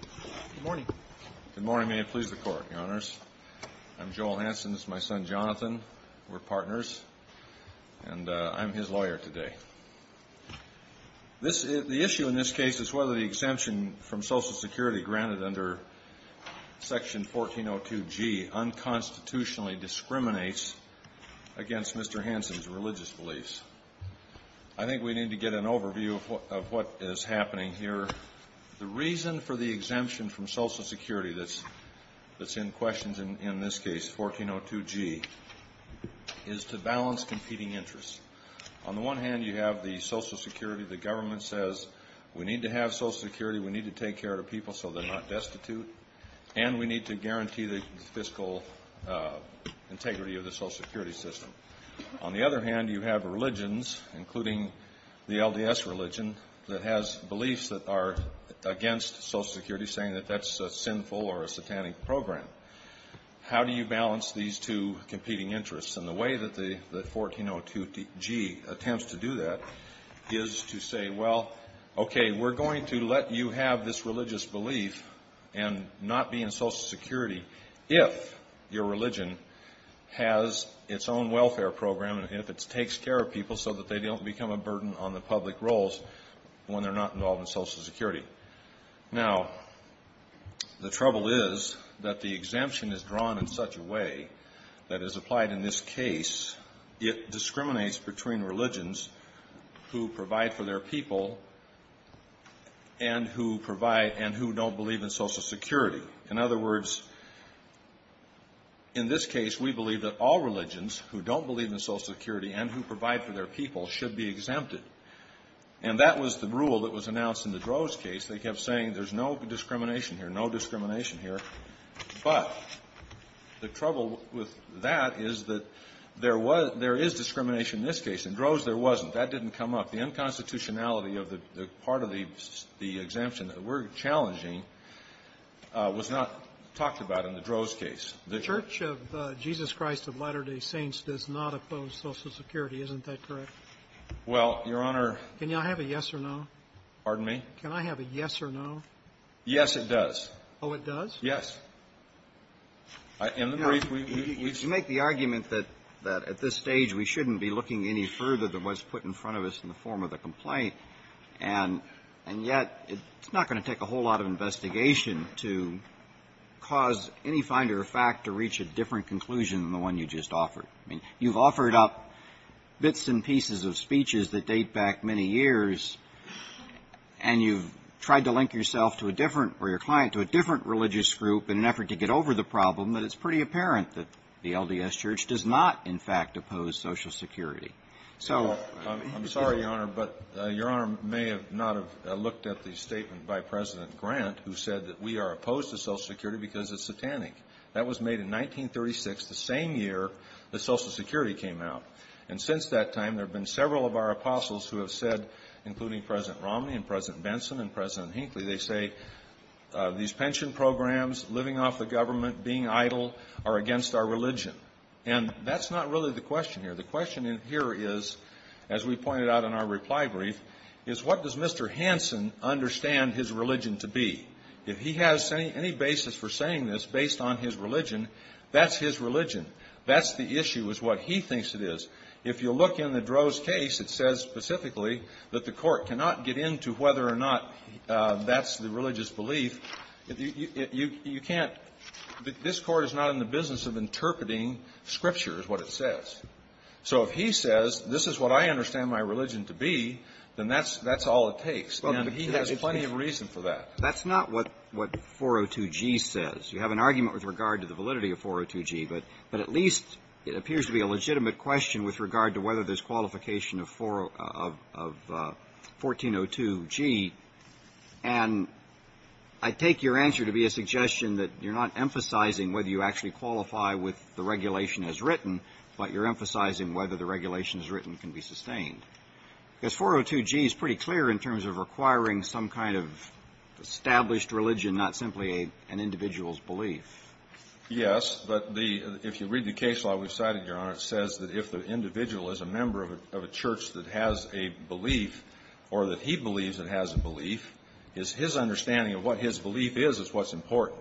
Good morning. Good morning. May it please the Court, Your Honors. I'm Joel Hansen. This is my son Jonathan. We're partners. And I'm his lawyer today. The issue in this case is whether the exemption from Social Security granted under Section 1402G unconstitutionally discriminates against Mr. Hansen's religious beliefs. I think we need to get an overview of what is happening here. The reason for the exemption from Social Security that's in question in this case, 1402G, is to balance competing interests. On the one hand, you have the Social Security, the government says, we need to have Social Security, we need to take care of people so they're not destitute, and we need to guarantee the fiscal integrity of the Social Security system. On the other hand, you have religions, including the LDS religion, that has beliefs that are against Social Security, saying that that's a sinful or a satanic program. How do you balance these two competing interests? And the way that the 1402G attempts to do that is to say, well, okay, we're going to let you have this religious belief and not be in Social Security if your religion has its own welfare program and if it takes care of people so that they don't become a burden on the public roles when they're not involved in Social Security. Now, the trouble is that the exemption is drawn in such a way that is applied in this case, it discriminates between religions who provide for their people and who don't believe in Social Security. In other words, in this case, we believe that all religions who don't believe in Social Security and who provide for their people should be exempted. And that was the rule that was announced in the Groves case. They kept saying there's no discrimination here, no discrimination here. But the trouble with that is that there was – there is discrimination in this case. In Groves, there wasn't. That didn't come up. The unconstitutionality of the part of the exemption that we're challenging was not talked about in the Groves case. The Church of Jesus Christ of Latter-day Saints does not oppose Social Security, isn't that correct? Well, Your Honor – Can I have a yes or no? Pardon me? Can I have a yes or no? Yes, it does. Oh, it does? Yes. In the brief, we've – You make the argument that at this stage, we shouldn't be looking any further than what's put in front of us in the form of the complaint. And yet, it's not going to take a whole lot of investigation to cause any finder of fact to reach a different conclusion than the one you just offered. I mean, you've offered up bits and pieces of speeches that date back many years, and you've tried to link yourself to a different – or your client to a different religious group in an effort to get over the problem, but it's pretty apparent that the LDS Church does not, in fact, oppose Social Security. So – I'm sorry, Your Honor, but Your Honor may have not have looked at the statement by President Grant, who said that we are opposed to Social Security because it's satanic. That was made in 1936, the same year that Social Security came out. And since that time, there have been several of our apostles who have said, including President Romney and President Benson and President Hinckley, they say these pension programs, living off the government, being idle, are against our religion. And that's not really the question here. The question here is, as we pointed out in our reply brief, is what does Mr. Hansen understand his religion to be? If he has any basis for saying this based on his religion, that's his religion. That's the issue is what he thinks it is. If you look in the Droz case, it says specifically that the Court cannot get into whether or not that's the religious belief. You can't – this Court is not in the business of interpreting scripture is what it says. So if he says this is what I understand my religion to be, then that's all it takes. And he has plenty of reason for that. But that's not what 402G says. You have an argument with regard to the validity of 402G, but at least it appears to be a legitimate question with regard to whether there's qualification of 1402G. And I take your answer to be a suggestion that you're not emphasizing whether you actually qualify with the regulation as written, but you're emphasizing whether the regulation as written can be sustained. Because 402G is pretty clear in terms of requiring some kind of established religion, not simply an individual's belief. Yes. But the – if you read the case law we've cited, Your Honor, it says that if the individual is a member of a church that has a belief or that he believes it has a belief, his understanding of what his belief is is what's important.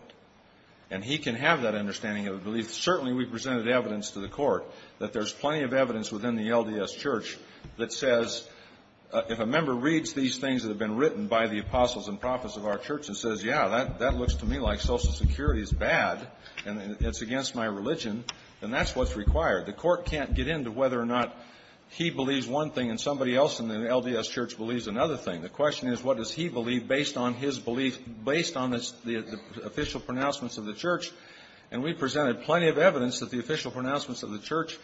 And he can have that understanding of a belief. Certainly, we've presented evidence to the court that there's plenty of evidence within the LDS church that says if a member reads these things that have been written by the apostles and prophets of our church and says, yeah, that looks to me like Social Security is bad and it's against my religion, then that's what's required. The court can't get into whether or not he believes one thing and somebody else in the LDS church believes another thing. The question is what does he believe based on his belief, based on the official pronouncements of the church. And we presented plenty of evidence that the official pronouncements of the church,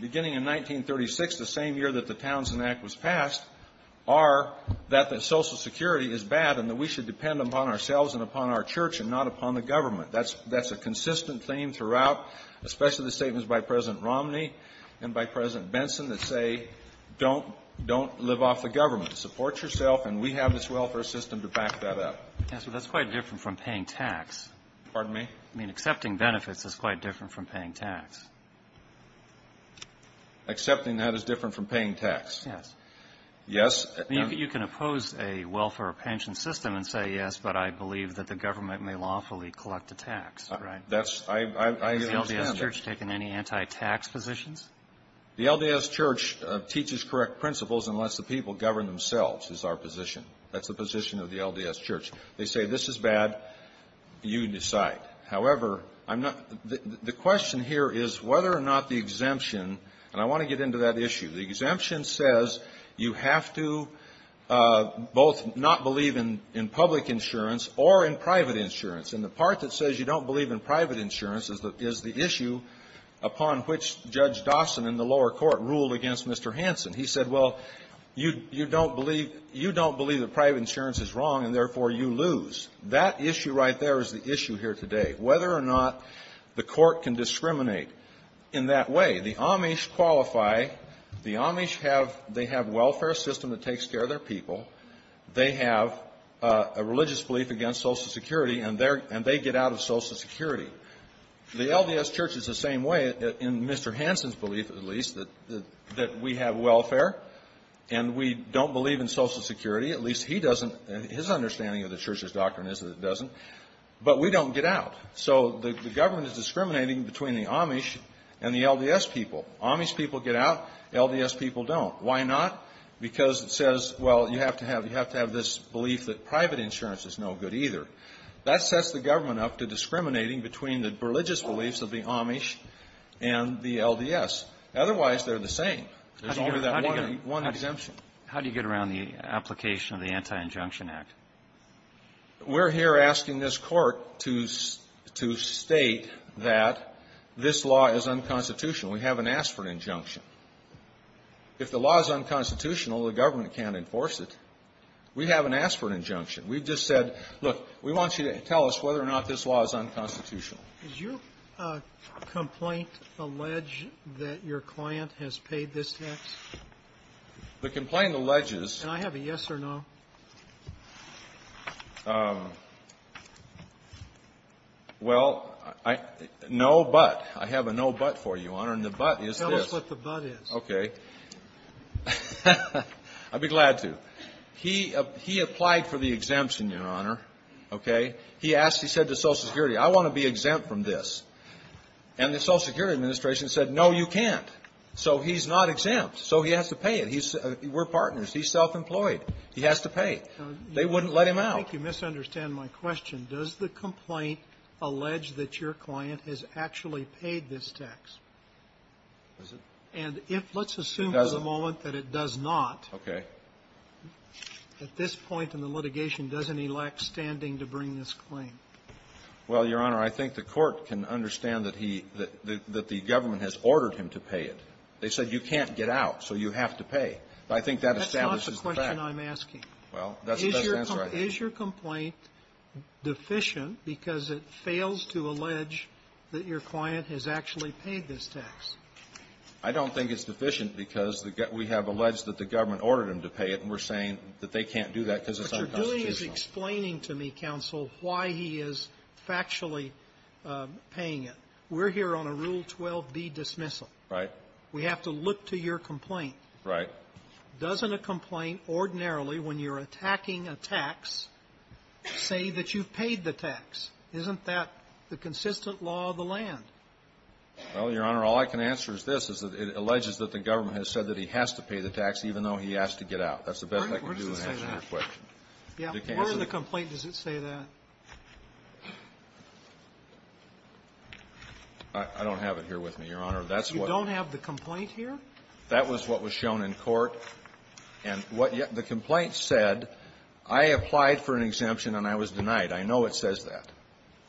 beginning in 1936, the same year that the Townsend Act was passed, are that Social Security is bad and that we should depend upon ourselves and upon our church and not upon the government. That's a consistent theme throughout, especially the statements by President Romney and by President Benson that say don't live off the government. Support yourself, and we have this welfare system to back that up. Yes, but that's quite different from paying tax. Pardon me? I mean, accepting benefits is quite different from paying tax. Accepting that is different from paying tax. Yes. Yes. You can oppose a welfare or pension system and say, yes, but I believe that the government may lawfully collect a tax. Right? That's the standard. Has the LDS church taken any anti-tax positions? The LDS church teaches correct principles and lets the people govern themselves is our position. That's the position of the LDS church. They say this is bad. You decide. However, I'm not the question here is whether or not the exemption, and I want to get into that issue. The exemption says you have to both not believe in public insurance or in private insurance. And the part that says you don't believe in private insurance is the issue upon which Judge Dawson in the lower court ruled against Mr. Hanson. He said, well, you don't believe the private insurance is wrong, and therefore you lose. That issue right there is the issue here today, whether or not the court can discriminate in that way. The Amish qualify. The Amish have they have welfare system that takes care of their people. They have a religious belief against Social Security, and they get out of Social Security. The LDS church is the same way in Mr. Hanson's belief, at least, that we have welfare and we don't believe in Social Security. At least he doesn't. His understanding of the church's doctrine is that it doesn't. But we don't get out. So the government is discriminating between the Amish and the LDS people. Amish people get out. LDS people don't. Why not? Because it says, well, you have to have this belief that private insurance is no good either. That sets the government up to discriminating between the religious beliefs of the Amish and the LDS. Otherwise, they're the same. There's only that one exemption. How do you get around the application of the Anti-Injunction Act? We're here asking this Court to state that this law is unconstitutional. We haven't asked for an injunction. If the law is unconstitutional, the government can't enforce it. We haven't asked for an injunction. We've just said, look, we want you to tell us whether or not this law is unconstitutional. Did your complaint allege that your client has paid this tax? The complaint alleges. Can I have a yes or no? Well, no but. I have a no but for you, Your Honor. And the but is this. Tell us what the but is. Okay. I'd be glad to. He applied for the exemption, Your Honor. Okay. He asked, he said to Social Security, I want to be exempt from this. And the Social Security Administration said, no, you can't. So he's not exempt. So he has to pay it. We're partners. He's self-employed. He has to pay. They wouldn't let him out. I think you misunderstand my question. Does the complaint allege that your client has actually paid this tax? Does it? And if, let's assume for the moment that it does not. Okay. At this point in the litigation, doesn't he lack standing to bring this claim? Well, Your Honor, I think the Court can understand that he, that the government has ordered him to pay it. They said you can't get out, so you have to pay. I think that establishes the fact. That's not the question I'm asking. Well, that's the answer I have. Is your complaint deficient because it fails to allege that your client has actually paid this tax? I don't think it's deficient because we have alleged that the government ordered him to pay it, and we're saying that they can't do that because it's unconstitutional. What you're doing is explaining to me, counsel, why he is factually paying it. We're here on a Rule 12b dismissal. Right. We have to look to your complaint. Right. Doesn't a complaint ordinarily, when you're attacking a tax, say that you've paid the tax? Isn't that the consistent law of the land? Well, Your Honor, all I can answer is this, is that it alleges that the government has said that he has to pay the tax, even though he asked to get out. That's the best I can do in answering your question. Yeah. Where in the complaint does it say that? I don't have it here with me, Your Honor. That's what the ---- You don't have the complaint here? That was what was shown in court. And what the complaint said, I applied for an exemption and I was denied. I know it says that.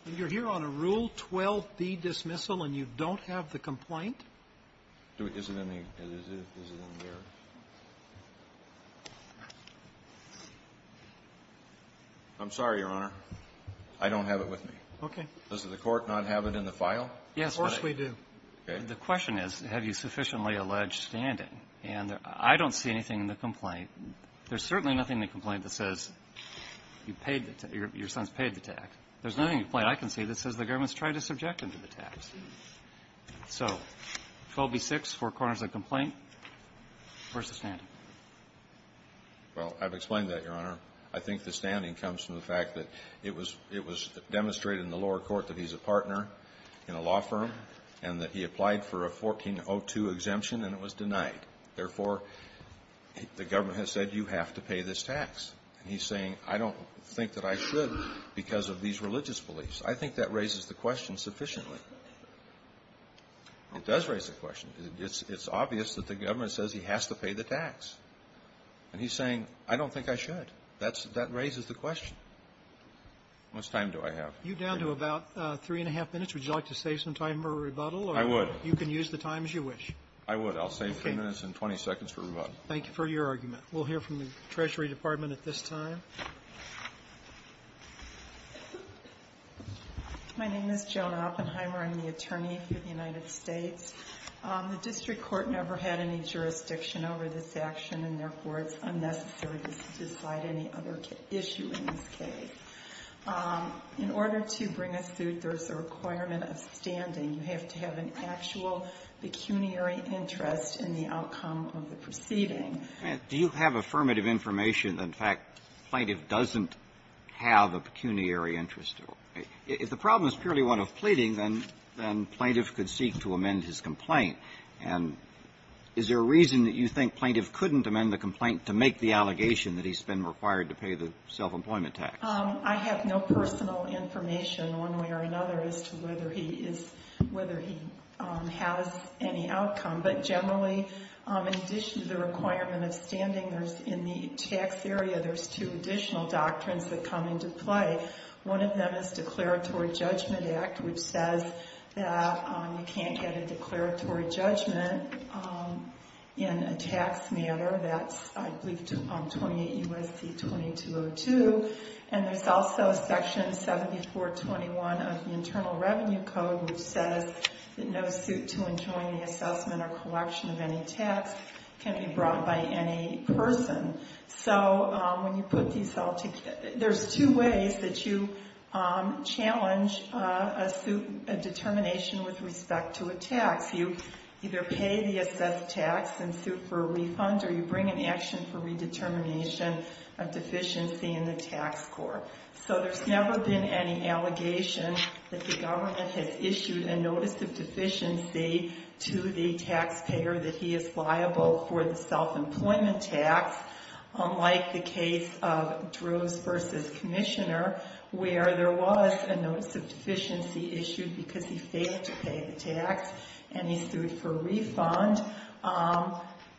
And you're here on a Rule 12b dismissal and you don't have the complaint? Is it in the ---- is it in there? I'm sorry, Your Honor. I don't have it with me. Okay. Does the court not have it in the file? Yes. Of course we do. Okay. The question is, have you sufficiently alleged standing? And I don't see anything in the complaint. There's certainly nothing in the complaint that says you paid the tax, your son's paid the tax. There's nothing in the complaint I can see that says the government has tried to subject him to the tax. So 12b-6, four corners of the complaint, where's the standing? Well, I've explained that, Your Honor. I think the standing comes from the fact that it was demonstrated in the lower court that he's a partner in a law firm and that he applied for a 1402 exemption and it was denied. Therefore, the government has said you have to pay this tax. And he's saying I don't think that I should because of these religious beliefs. I think that raises the question sufficiently. It does raise the question. It's obvious that the government says he has to pay the tax. And he's saying I don't think I should. That raises the question. How much time do I have? You're down to about three and a half minutes. Would you like to save some time for a rebuttal? I would. You can use the time as you wish. I would. I'll save three minutes and 20 seconds for a rebuttal. Thank you for your argument. We'll hear from the Treasury Department at this time. My name is Joan Oppenheimer. I'm the attorney for the United States. The district court never had any jurisdiction over this action, and therefore, it's unnecessary to decide any other issue in this case. In order to bring a suit, there's a requirement of standing. You have to have an actual pecuniary interest in the outcome of the proceeding. Do you have affirmative information that, in fact, plaintiff doesn't have a pecuniary interest? If the problem is purely one of pleading, then plaintiff could seek to amend his complaint. And is there a reason that you think plaintiff couldn't amend the complaint to make the allegation that he's been required to pay the self-employment tax? I have no personal information, one way or another, as to whether he has any outcome. But generally, in addition to the requirement of standing, in the tax area, there's two additional doctrines that come into play. One of them is Declaratory Judgment Act, which says that you can't get a declaratory judgment in a tax matter. That's, I believe, 28 U.S.C. 2202. And there's also Section 7421 of the Internal Revenue Code, which says that no suit to enjoin the assessment or collection of any tax can be brought by any person. So when you put these all together, there's two ways that you challenge a determination with respect to a tax. You either pay the assessed tax in suit for a refund, or you bring an action for redetermination of deficiency in the tax score. So there's never been any allegation that the government has issued a notice of deficiency to the taxpayer that he is liable for the self-employment tax, unlike the case of Droves v. Commissioner, where there was a notice of deficiency issued because he failed to pay the tax and he sued for a refund.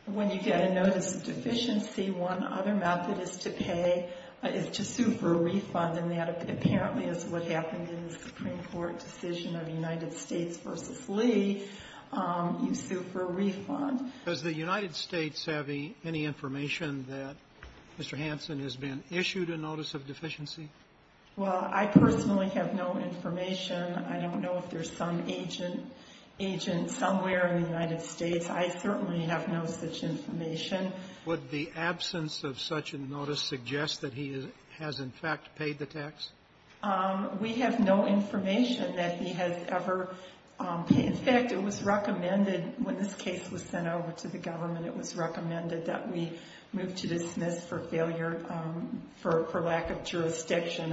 When you get a notice of deficiency, one other method is to pay, is to sue for a refund, and that apparently is what happened in the Supreme Court decision of United States v. Lee. You sue for a refund. Roberts. Does the United States have any information that Mr. Hansen has been issued a notice of deficiency? Well, I personally have no information. I don't know if there's some agent somewhere in the United States. I certainly have no such information. Would the absence of such a notice suggest that he has, in fact, paid the tax? We have no information that he has ever paid. In fact, it was recommended when this case was sent over to the government, it was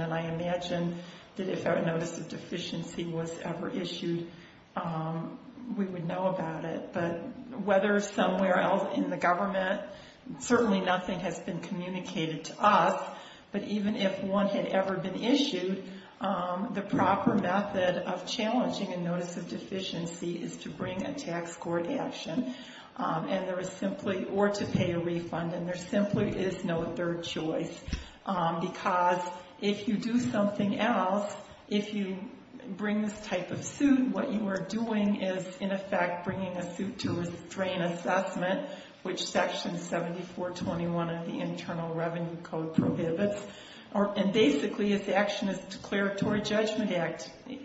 And I imagine that if a notice of deficiency was ever issued, we would know about it. But whether somewhere else in the government, certainly nothing has been communicated to us. But even if one had ever been issued, the proper method of challenging a notice of deficiency is to bring a tax court action or to pay a refund. And there simply is no third choice. Because if you do something else, if you bring this type of suit, what you are doing is, in effect, bringing a suit to restrain assessment, which section 7421 of the Internal Revenue Code prohibits. And basically, his action is a declaratory judgment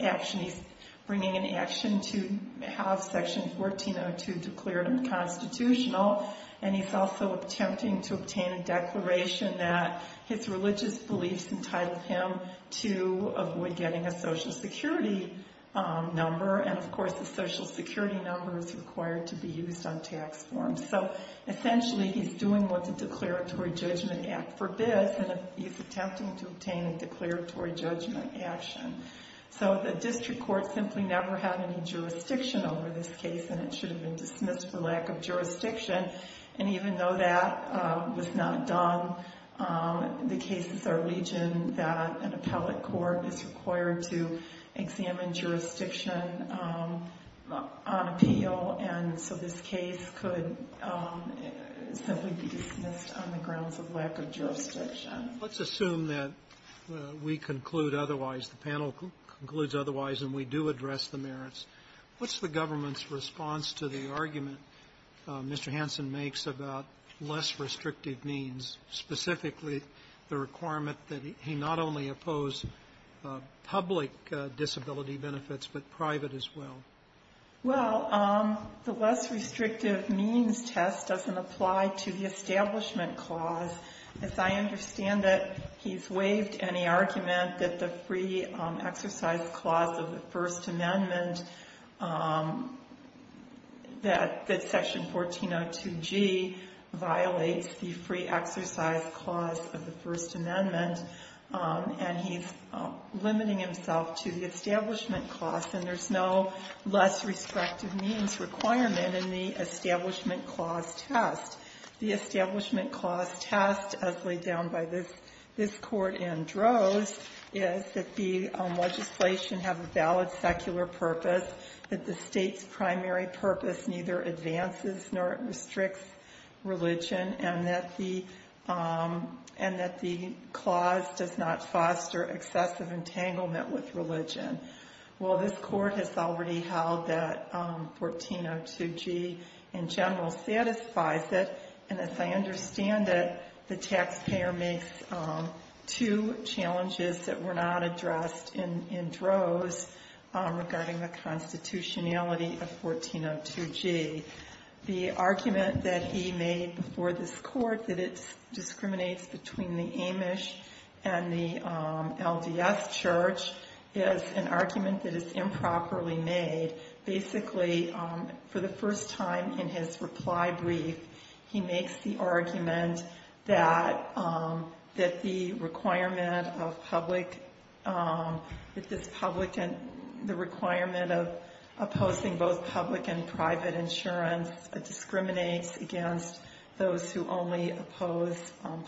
action. He's bringing an action to have section 1402 declared unconstitutional. And he's also attempting to obtain a declaration that his religious beliefs entitled him to avoid getting a Social Security number. And, of course, the Social Security number is required to be used on tax forms. So, essentially, he's doing what the Declaratory Judgment Act forbids. And he's attempting to obtain a declaratory judgment action. So the district court simply never had any jurisdiction over this case. And it should have been dismissed for lack of jurisdiction. And even though that was not done, the cases are legion that an appellate court is required to examine jurisdiction on appeal. And so this case could simply be dismissed on the grounds of lack of jurisdiction. Sotomayor, let's assume that we conclude otherwise, the panel concludes otherwise, and we do address the merits. What's the government's response to the argument Mr. Hansen makes about less restrictive means, specifically the requirement that he not only oppose public disability benefits, but private as well? Well, the less restrictive means test doesn't apply to the Establishment Clause. As I understand it, he's waived any argument that the free exercise clause of the First Amendment, that Section 1402G violates the free exercise clause of the First Amendment. And he's limiting himself to the Establishment Clause. And there's no less restrictive means requirement in the Establishment Clause test. The Establishment Clause test, as laid down by this Court in Droz, is that the legislation have a valid secular purpose, that the state's primary purpose neither advances nor restricts religion, and that the clause does not foster excessive entanglement with religion. Well, this Court has already held that 1402G in general satisfies it. And as I understand it, the taxpayer makes two challenges that were not addressed in Droz regarding the constitutionality of 1402G. The argument that he made before this Court that it discriminates between the Amish and the LDS church is an argument that is improperly made. Basically, for the first time in his reply brief, he makes the argument that the requirement of public, that the requirement of opposing both public and private insurance discriminates against those who only oppose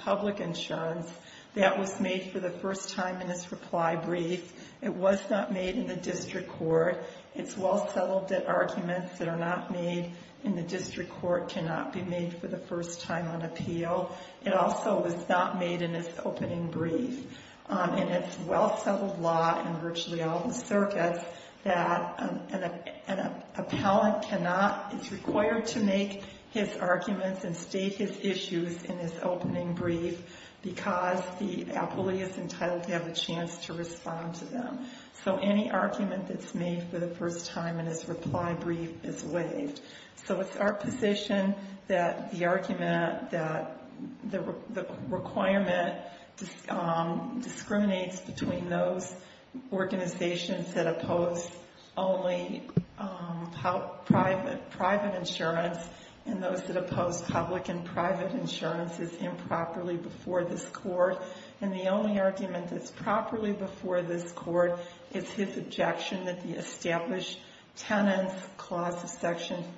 public insurance. That was made for the first time in his reply brief. It was not made in the district court. It's well settled that arguments that are not made in the district court cannot be made for the first time on appeal. It also was not made in his opening brief. And it's well settled law in virtually all the circuits that an appellant cannot, is required to make his arguments and state his issues in his opening brief because the appellee is entitled to have a chance to respond to them. So any argument that's made for the first time in his reply brief is waived. So it's our position that the argument that the requirement discriminates between those organizations that oppose only private insurance and those that oppose public and private insurance is improperly before this Court. And the only argument that's properly before this Court is his objection that the Section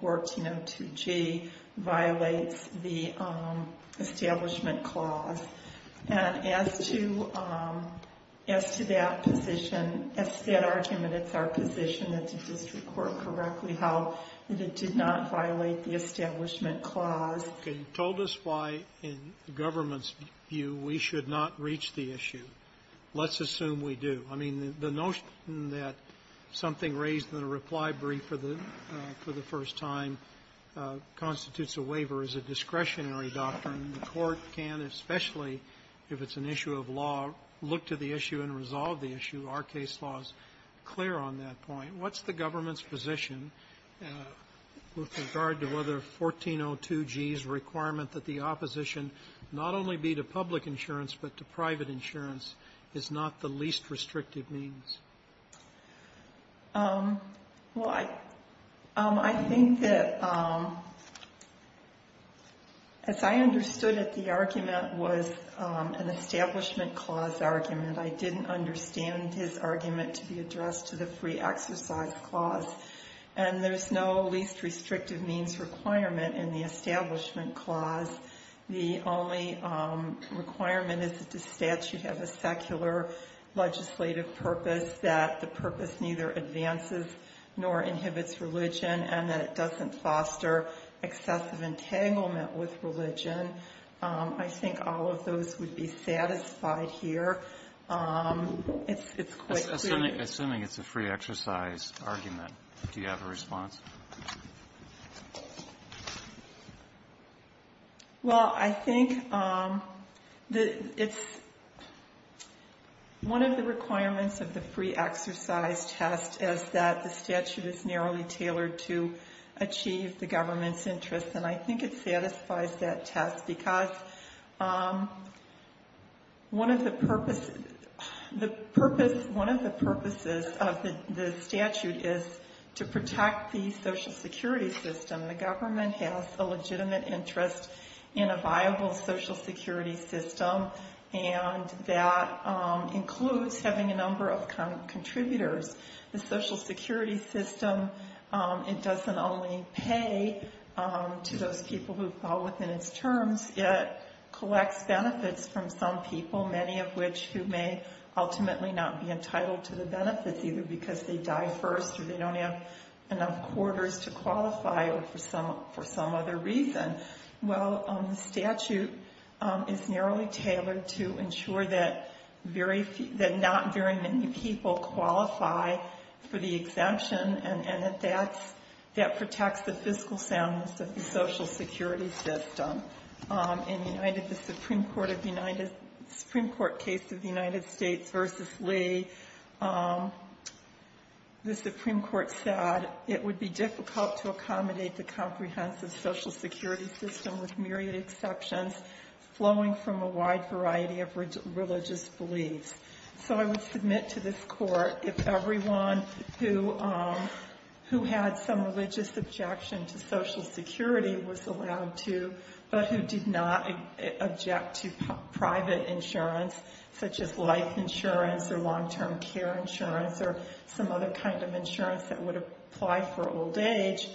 1402G violates the Establishment Clause. And as to that position, as to that argument, it's our position that the district court correctly held that it did not violate the Establishment Clause. Sotomayor, you told us why, in the government's view, we should not reach the issue. Let's assume we do. I mean, the notion that something raised in a reply brief for the first time constitutes a waiver is a discretionary doctrine. The Court can, especially if it's an issue of law, look to the issue and resolve the issue. Our case law is clear on that point. What's the government's position with regard to whether 1402G's requirement that the opposition not only be to public insurance but to private insurance is not the least restrictive means? Well, I think that, as I understood it, the argument was an Establishment Clause argument. I didn't understand his argument to be addressed to the Free Exercise Clause. And there's no least restrictive means requirement in the Establishment Clause. The only requirement is that the statute has a secular legislative purpose, that the purpose neither advances nor inhibits religion, and that it doesn't foster excessive entanglement with religion. I think all of those would be satisfied here. It's quite clear. Assuming it's a Free Exercise argument, do you have a response? Well, I think one of the requirements of the Free Exercise test is that the statute is narrowly tailored to achieve the government's interests. And I think it satisfies that test because one of the purposes of the statute is to protect the Social Security system. The government has a legitimate interest in a viable Social Security system, and that includes having a number of contributors. The Social Security system, it doesn't only pay to those people who fall within its terms. It collects benefits from some people, many of which who may ultimately not be members, or they don't have enough quarters to qualify, or for some other reason. Well, the statute is narrowly tailored to ensure that not very many people qualify for the exemption, and that that protects the fiscal soundness of the Social Security system. In the Supreme Court case of the United States v. Lee, the Supreme Court said it would be difficult to accommodate the comprehensive Social Security system with myriad exceptions flowing from a wide variety of religious beliefs. So I would submit to this Court if everyone who had some religious objection to Social Security was allowed to, but who did not object to private insurance, such as life insurance or long-term care insurance or some other kind of insurance that would apply for old age,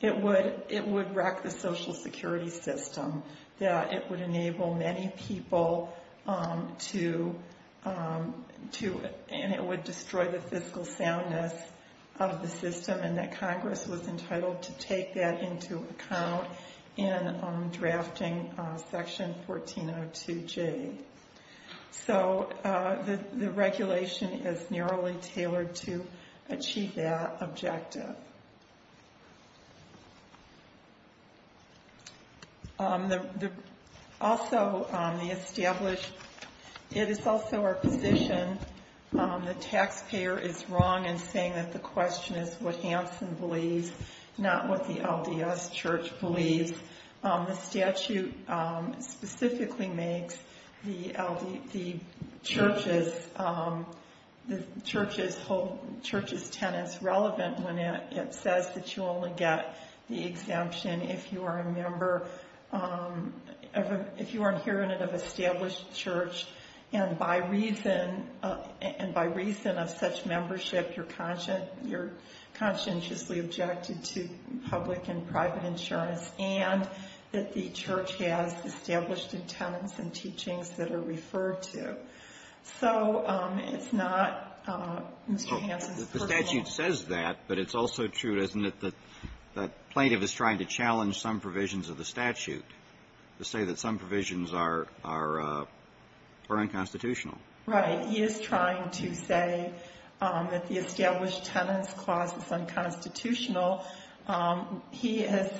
it would wreck the Social Security system. It would enable many people to, and it would destroy the fiscal soundness of the system. The Supreme Court was entitled to take that into account in drafting Section 1402J. So the regulation is narrowly tailored to achieve that objective. Also, the established, it is also our position the taxpayer is wrong in saying that the question is what Hansen believes, not what the LDS Church believes. The statute specifically makes the church's tenets relevant when it says that you only get the exemption if you are a member, if you are an inherent and established church, and by reason of such membership, you're conscientiously objected to public and private insurance, and that the church has established tenets and teachings that are referred to. So it's not Mr. Hansen's personal opinion. Roberts. The statute says that, but it's also true, isn't it, that the plaintiff is trying to challenge some provisions of the statute, to say that some provisions are unconstitutional? Right. He is trying to say that the established tenets clause is unconstitutional. He has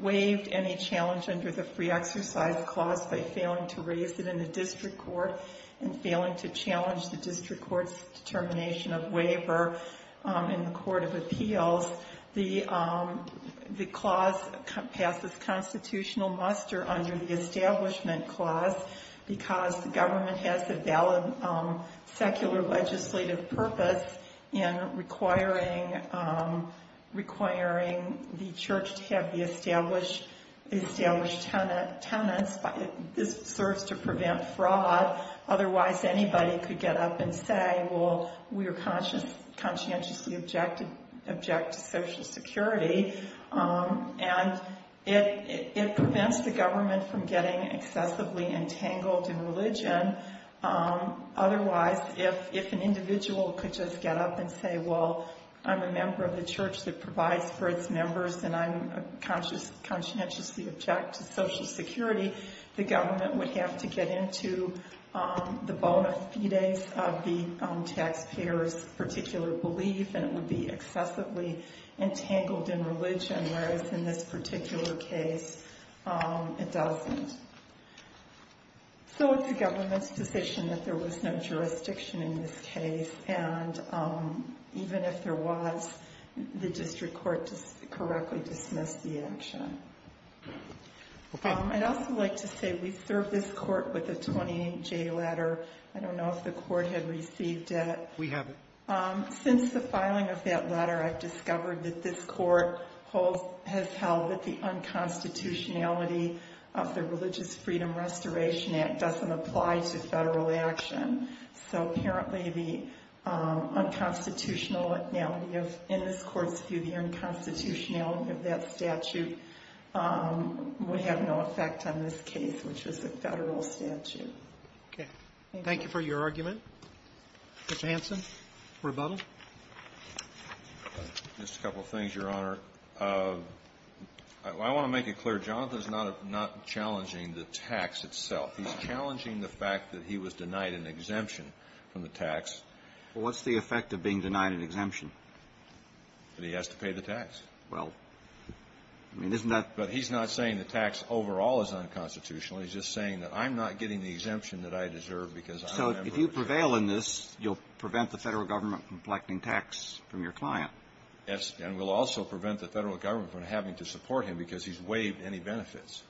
waived any challenge under the free exercise clause by failing to raise it in the district court and failing to challenge the district court's determination of waiver in the court of appeals. The clause passes constitutional muster under the establishment clause because the government has a valid secular legislative purpose in requiring the church to have the established tenets. This serves to prevent fraud. Otherwise, anybody could get up and say, well, we are conscientiously objected to Social Security, and it prevents the government from getting excessively entangled in religion. Otherwise, if an individual could just get up and say, well, I'm a member of the church that provides for its members, and I'm conscientiously objected to Social Security, the government would have to get into the bona fides of the taxpayer's particular belief, and it would be excessively entangled in religion, whereas in this particular case, it doesn't. So it's the government's decision that there was no jurisdiction in this case, and even if there was, the district court just correctly dismissed the action. I'd also like to say we served this court with a 28-J letter. I don't know if the court had received it. We haven't. Since the filing of that letter, I've discovered that this court has held that the unconstitutionality of the Religious Freedom Restoration Act doesn't apply to federal action. So apparently, the unconstitutionality of this court's view, the unconstitutionality of that statute would have no effect on this case, which was a federal statute. Roberts. Okay. Thank you for your argument. Mr. Hanson, rebuttal. Just a couple of things, Your Honor. I want to make it clear. Jonathan is not challenging the tax itself. He's challenging the fact that he was denied an exemption from the tax. Well, what's the effect of being denied an exemption? That he has to pay the tax. Well, I mean, isn't that — But he's not saying the tax overall is unconstitutional. He's just saying that I'm not getting the exemption that I deserve because I'm a member of the district. So if you prevail in this, you'll prevent the federal government from collecting tax from your client. Yes. And we'll also prevent the federal government from having to support him because he's waived any benefits.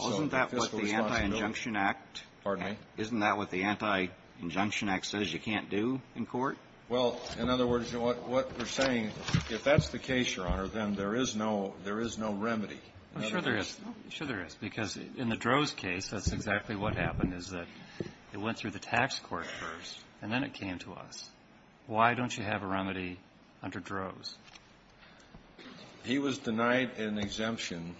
Isn't that what the Anti-Injunction Act — Pardon me? Isn't that what the Anti-Injunction Act says you can't do in court? Well, in other words, what we're saying, if that's the case, Your Honor, then there is no remedy. I'm sure there is. I'm sure there is. Because in the Droz case, that's exactly what happened, is that it went through the tax court first, and then it came to us. Why don't you have a remedy under Droz? He was denied an exemption,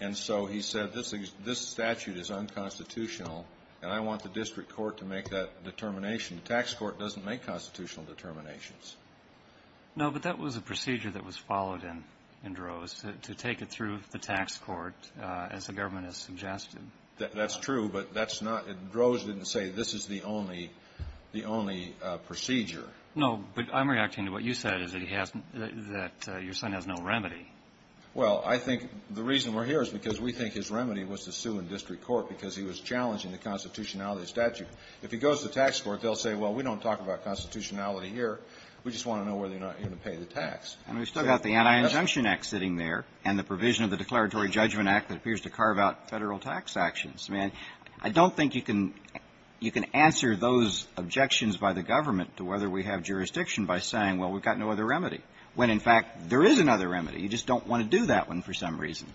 and so he said this statute is unconstitutional, and I want the district court to make that determination. The tax court doesn't make constitutional determinations. No, but that was a procedure that was followed in Droz, to take it through the tax court, as the government has suggested. That's true, but that's not — Droz didn't say this is the only procedure. No, but I'm reacting to what you said, is that your son has no remedy. Well, I think the reason we're here is because we think his remedy was to sue in district court because he was challenging the constitutionality of the statute. If he goes to the tax court, they'll say, well, we don't talk about constitutionality here. We just want to know whether you're going to pay the tax. And we've still got the Anti-Injunction Act sitting there, and the provision of the Declaratory Judgment Act that appears to carve out federal tax actions. I mean, I don't think you can answer those objections by the government to whether we have jurisdiction by saying, well, we've got no other remedy, when, in fact, there is another remedy. You just don't want to do that one for some reason.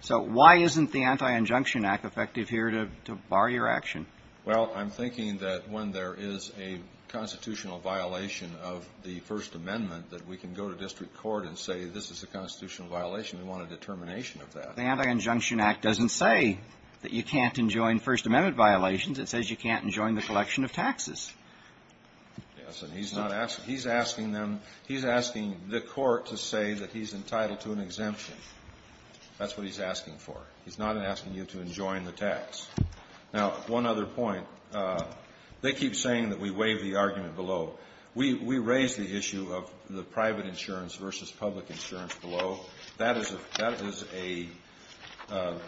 So why isn't the Anti-Injunction Act effective here to bar your action? Well, I'm thinking that when there is a constitutional violation of the First Amendment, that we can go to district court and say this is a constitutional violation. We want a determination of that. But the Anti-Injunction Act doesn't say that you can't enjoin First Amendment violations. It says you can't enjoin the collection of taxes. Yes. And he's not asking them. He's asking the court to say that he's entitled to an exemption. That's what he's asking for. He's not asking you to enjoin the tax. Now, one other point. They keep saying that we waive the argument below. We raise the issue of the private insurance versus public insurance below. That is a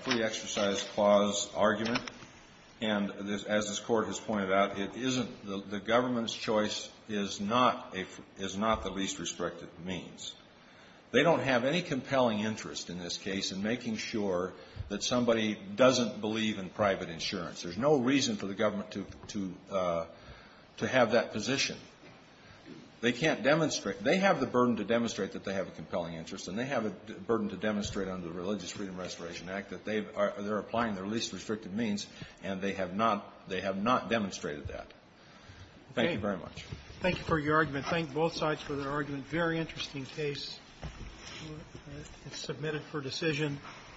free exercise clause argument. And as this Court has pointed out, it isn't the government's choice is not the least restrictive means. They don't have any compelling interest in this case in making sure that somebody doesn't believe in private insurance. There's no reason for the government to have that position. They can't demonstrate. They have the burden to demonstrate that they have a compelling interest, and they have a burden to demonstrate under the Religious Freedom Restoration Act that they are applying their least restrictive means, and they have not demonstrated that. Thank you very much. Thank you for your argument. Thank both sides for their argument. Very interesting case. It's submitted for decision.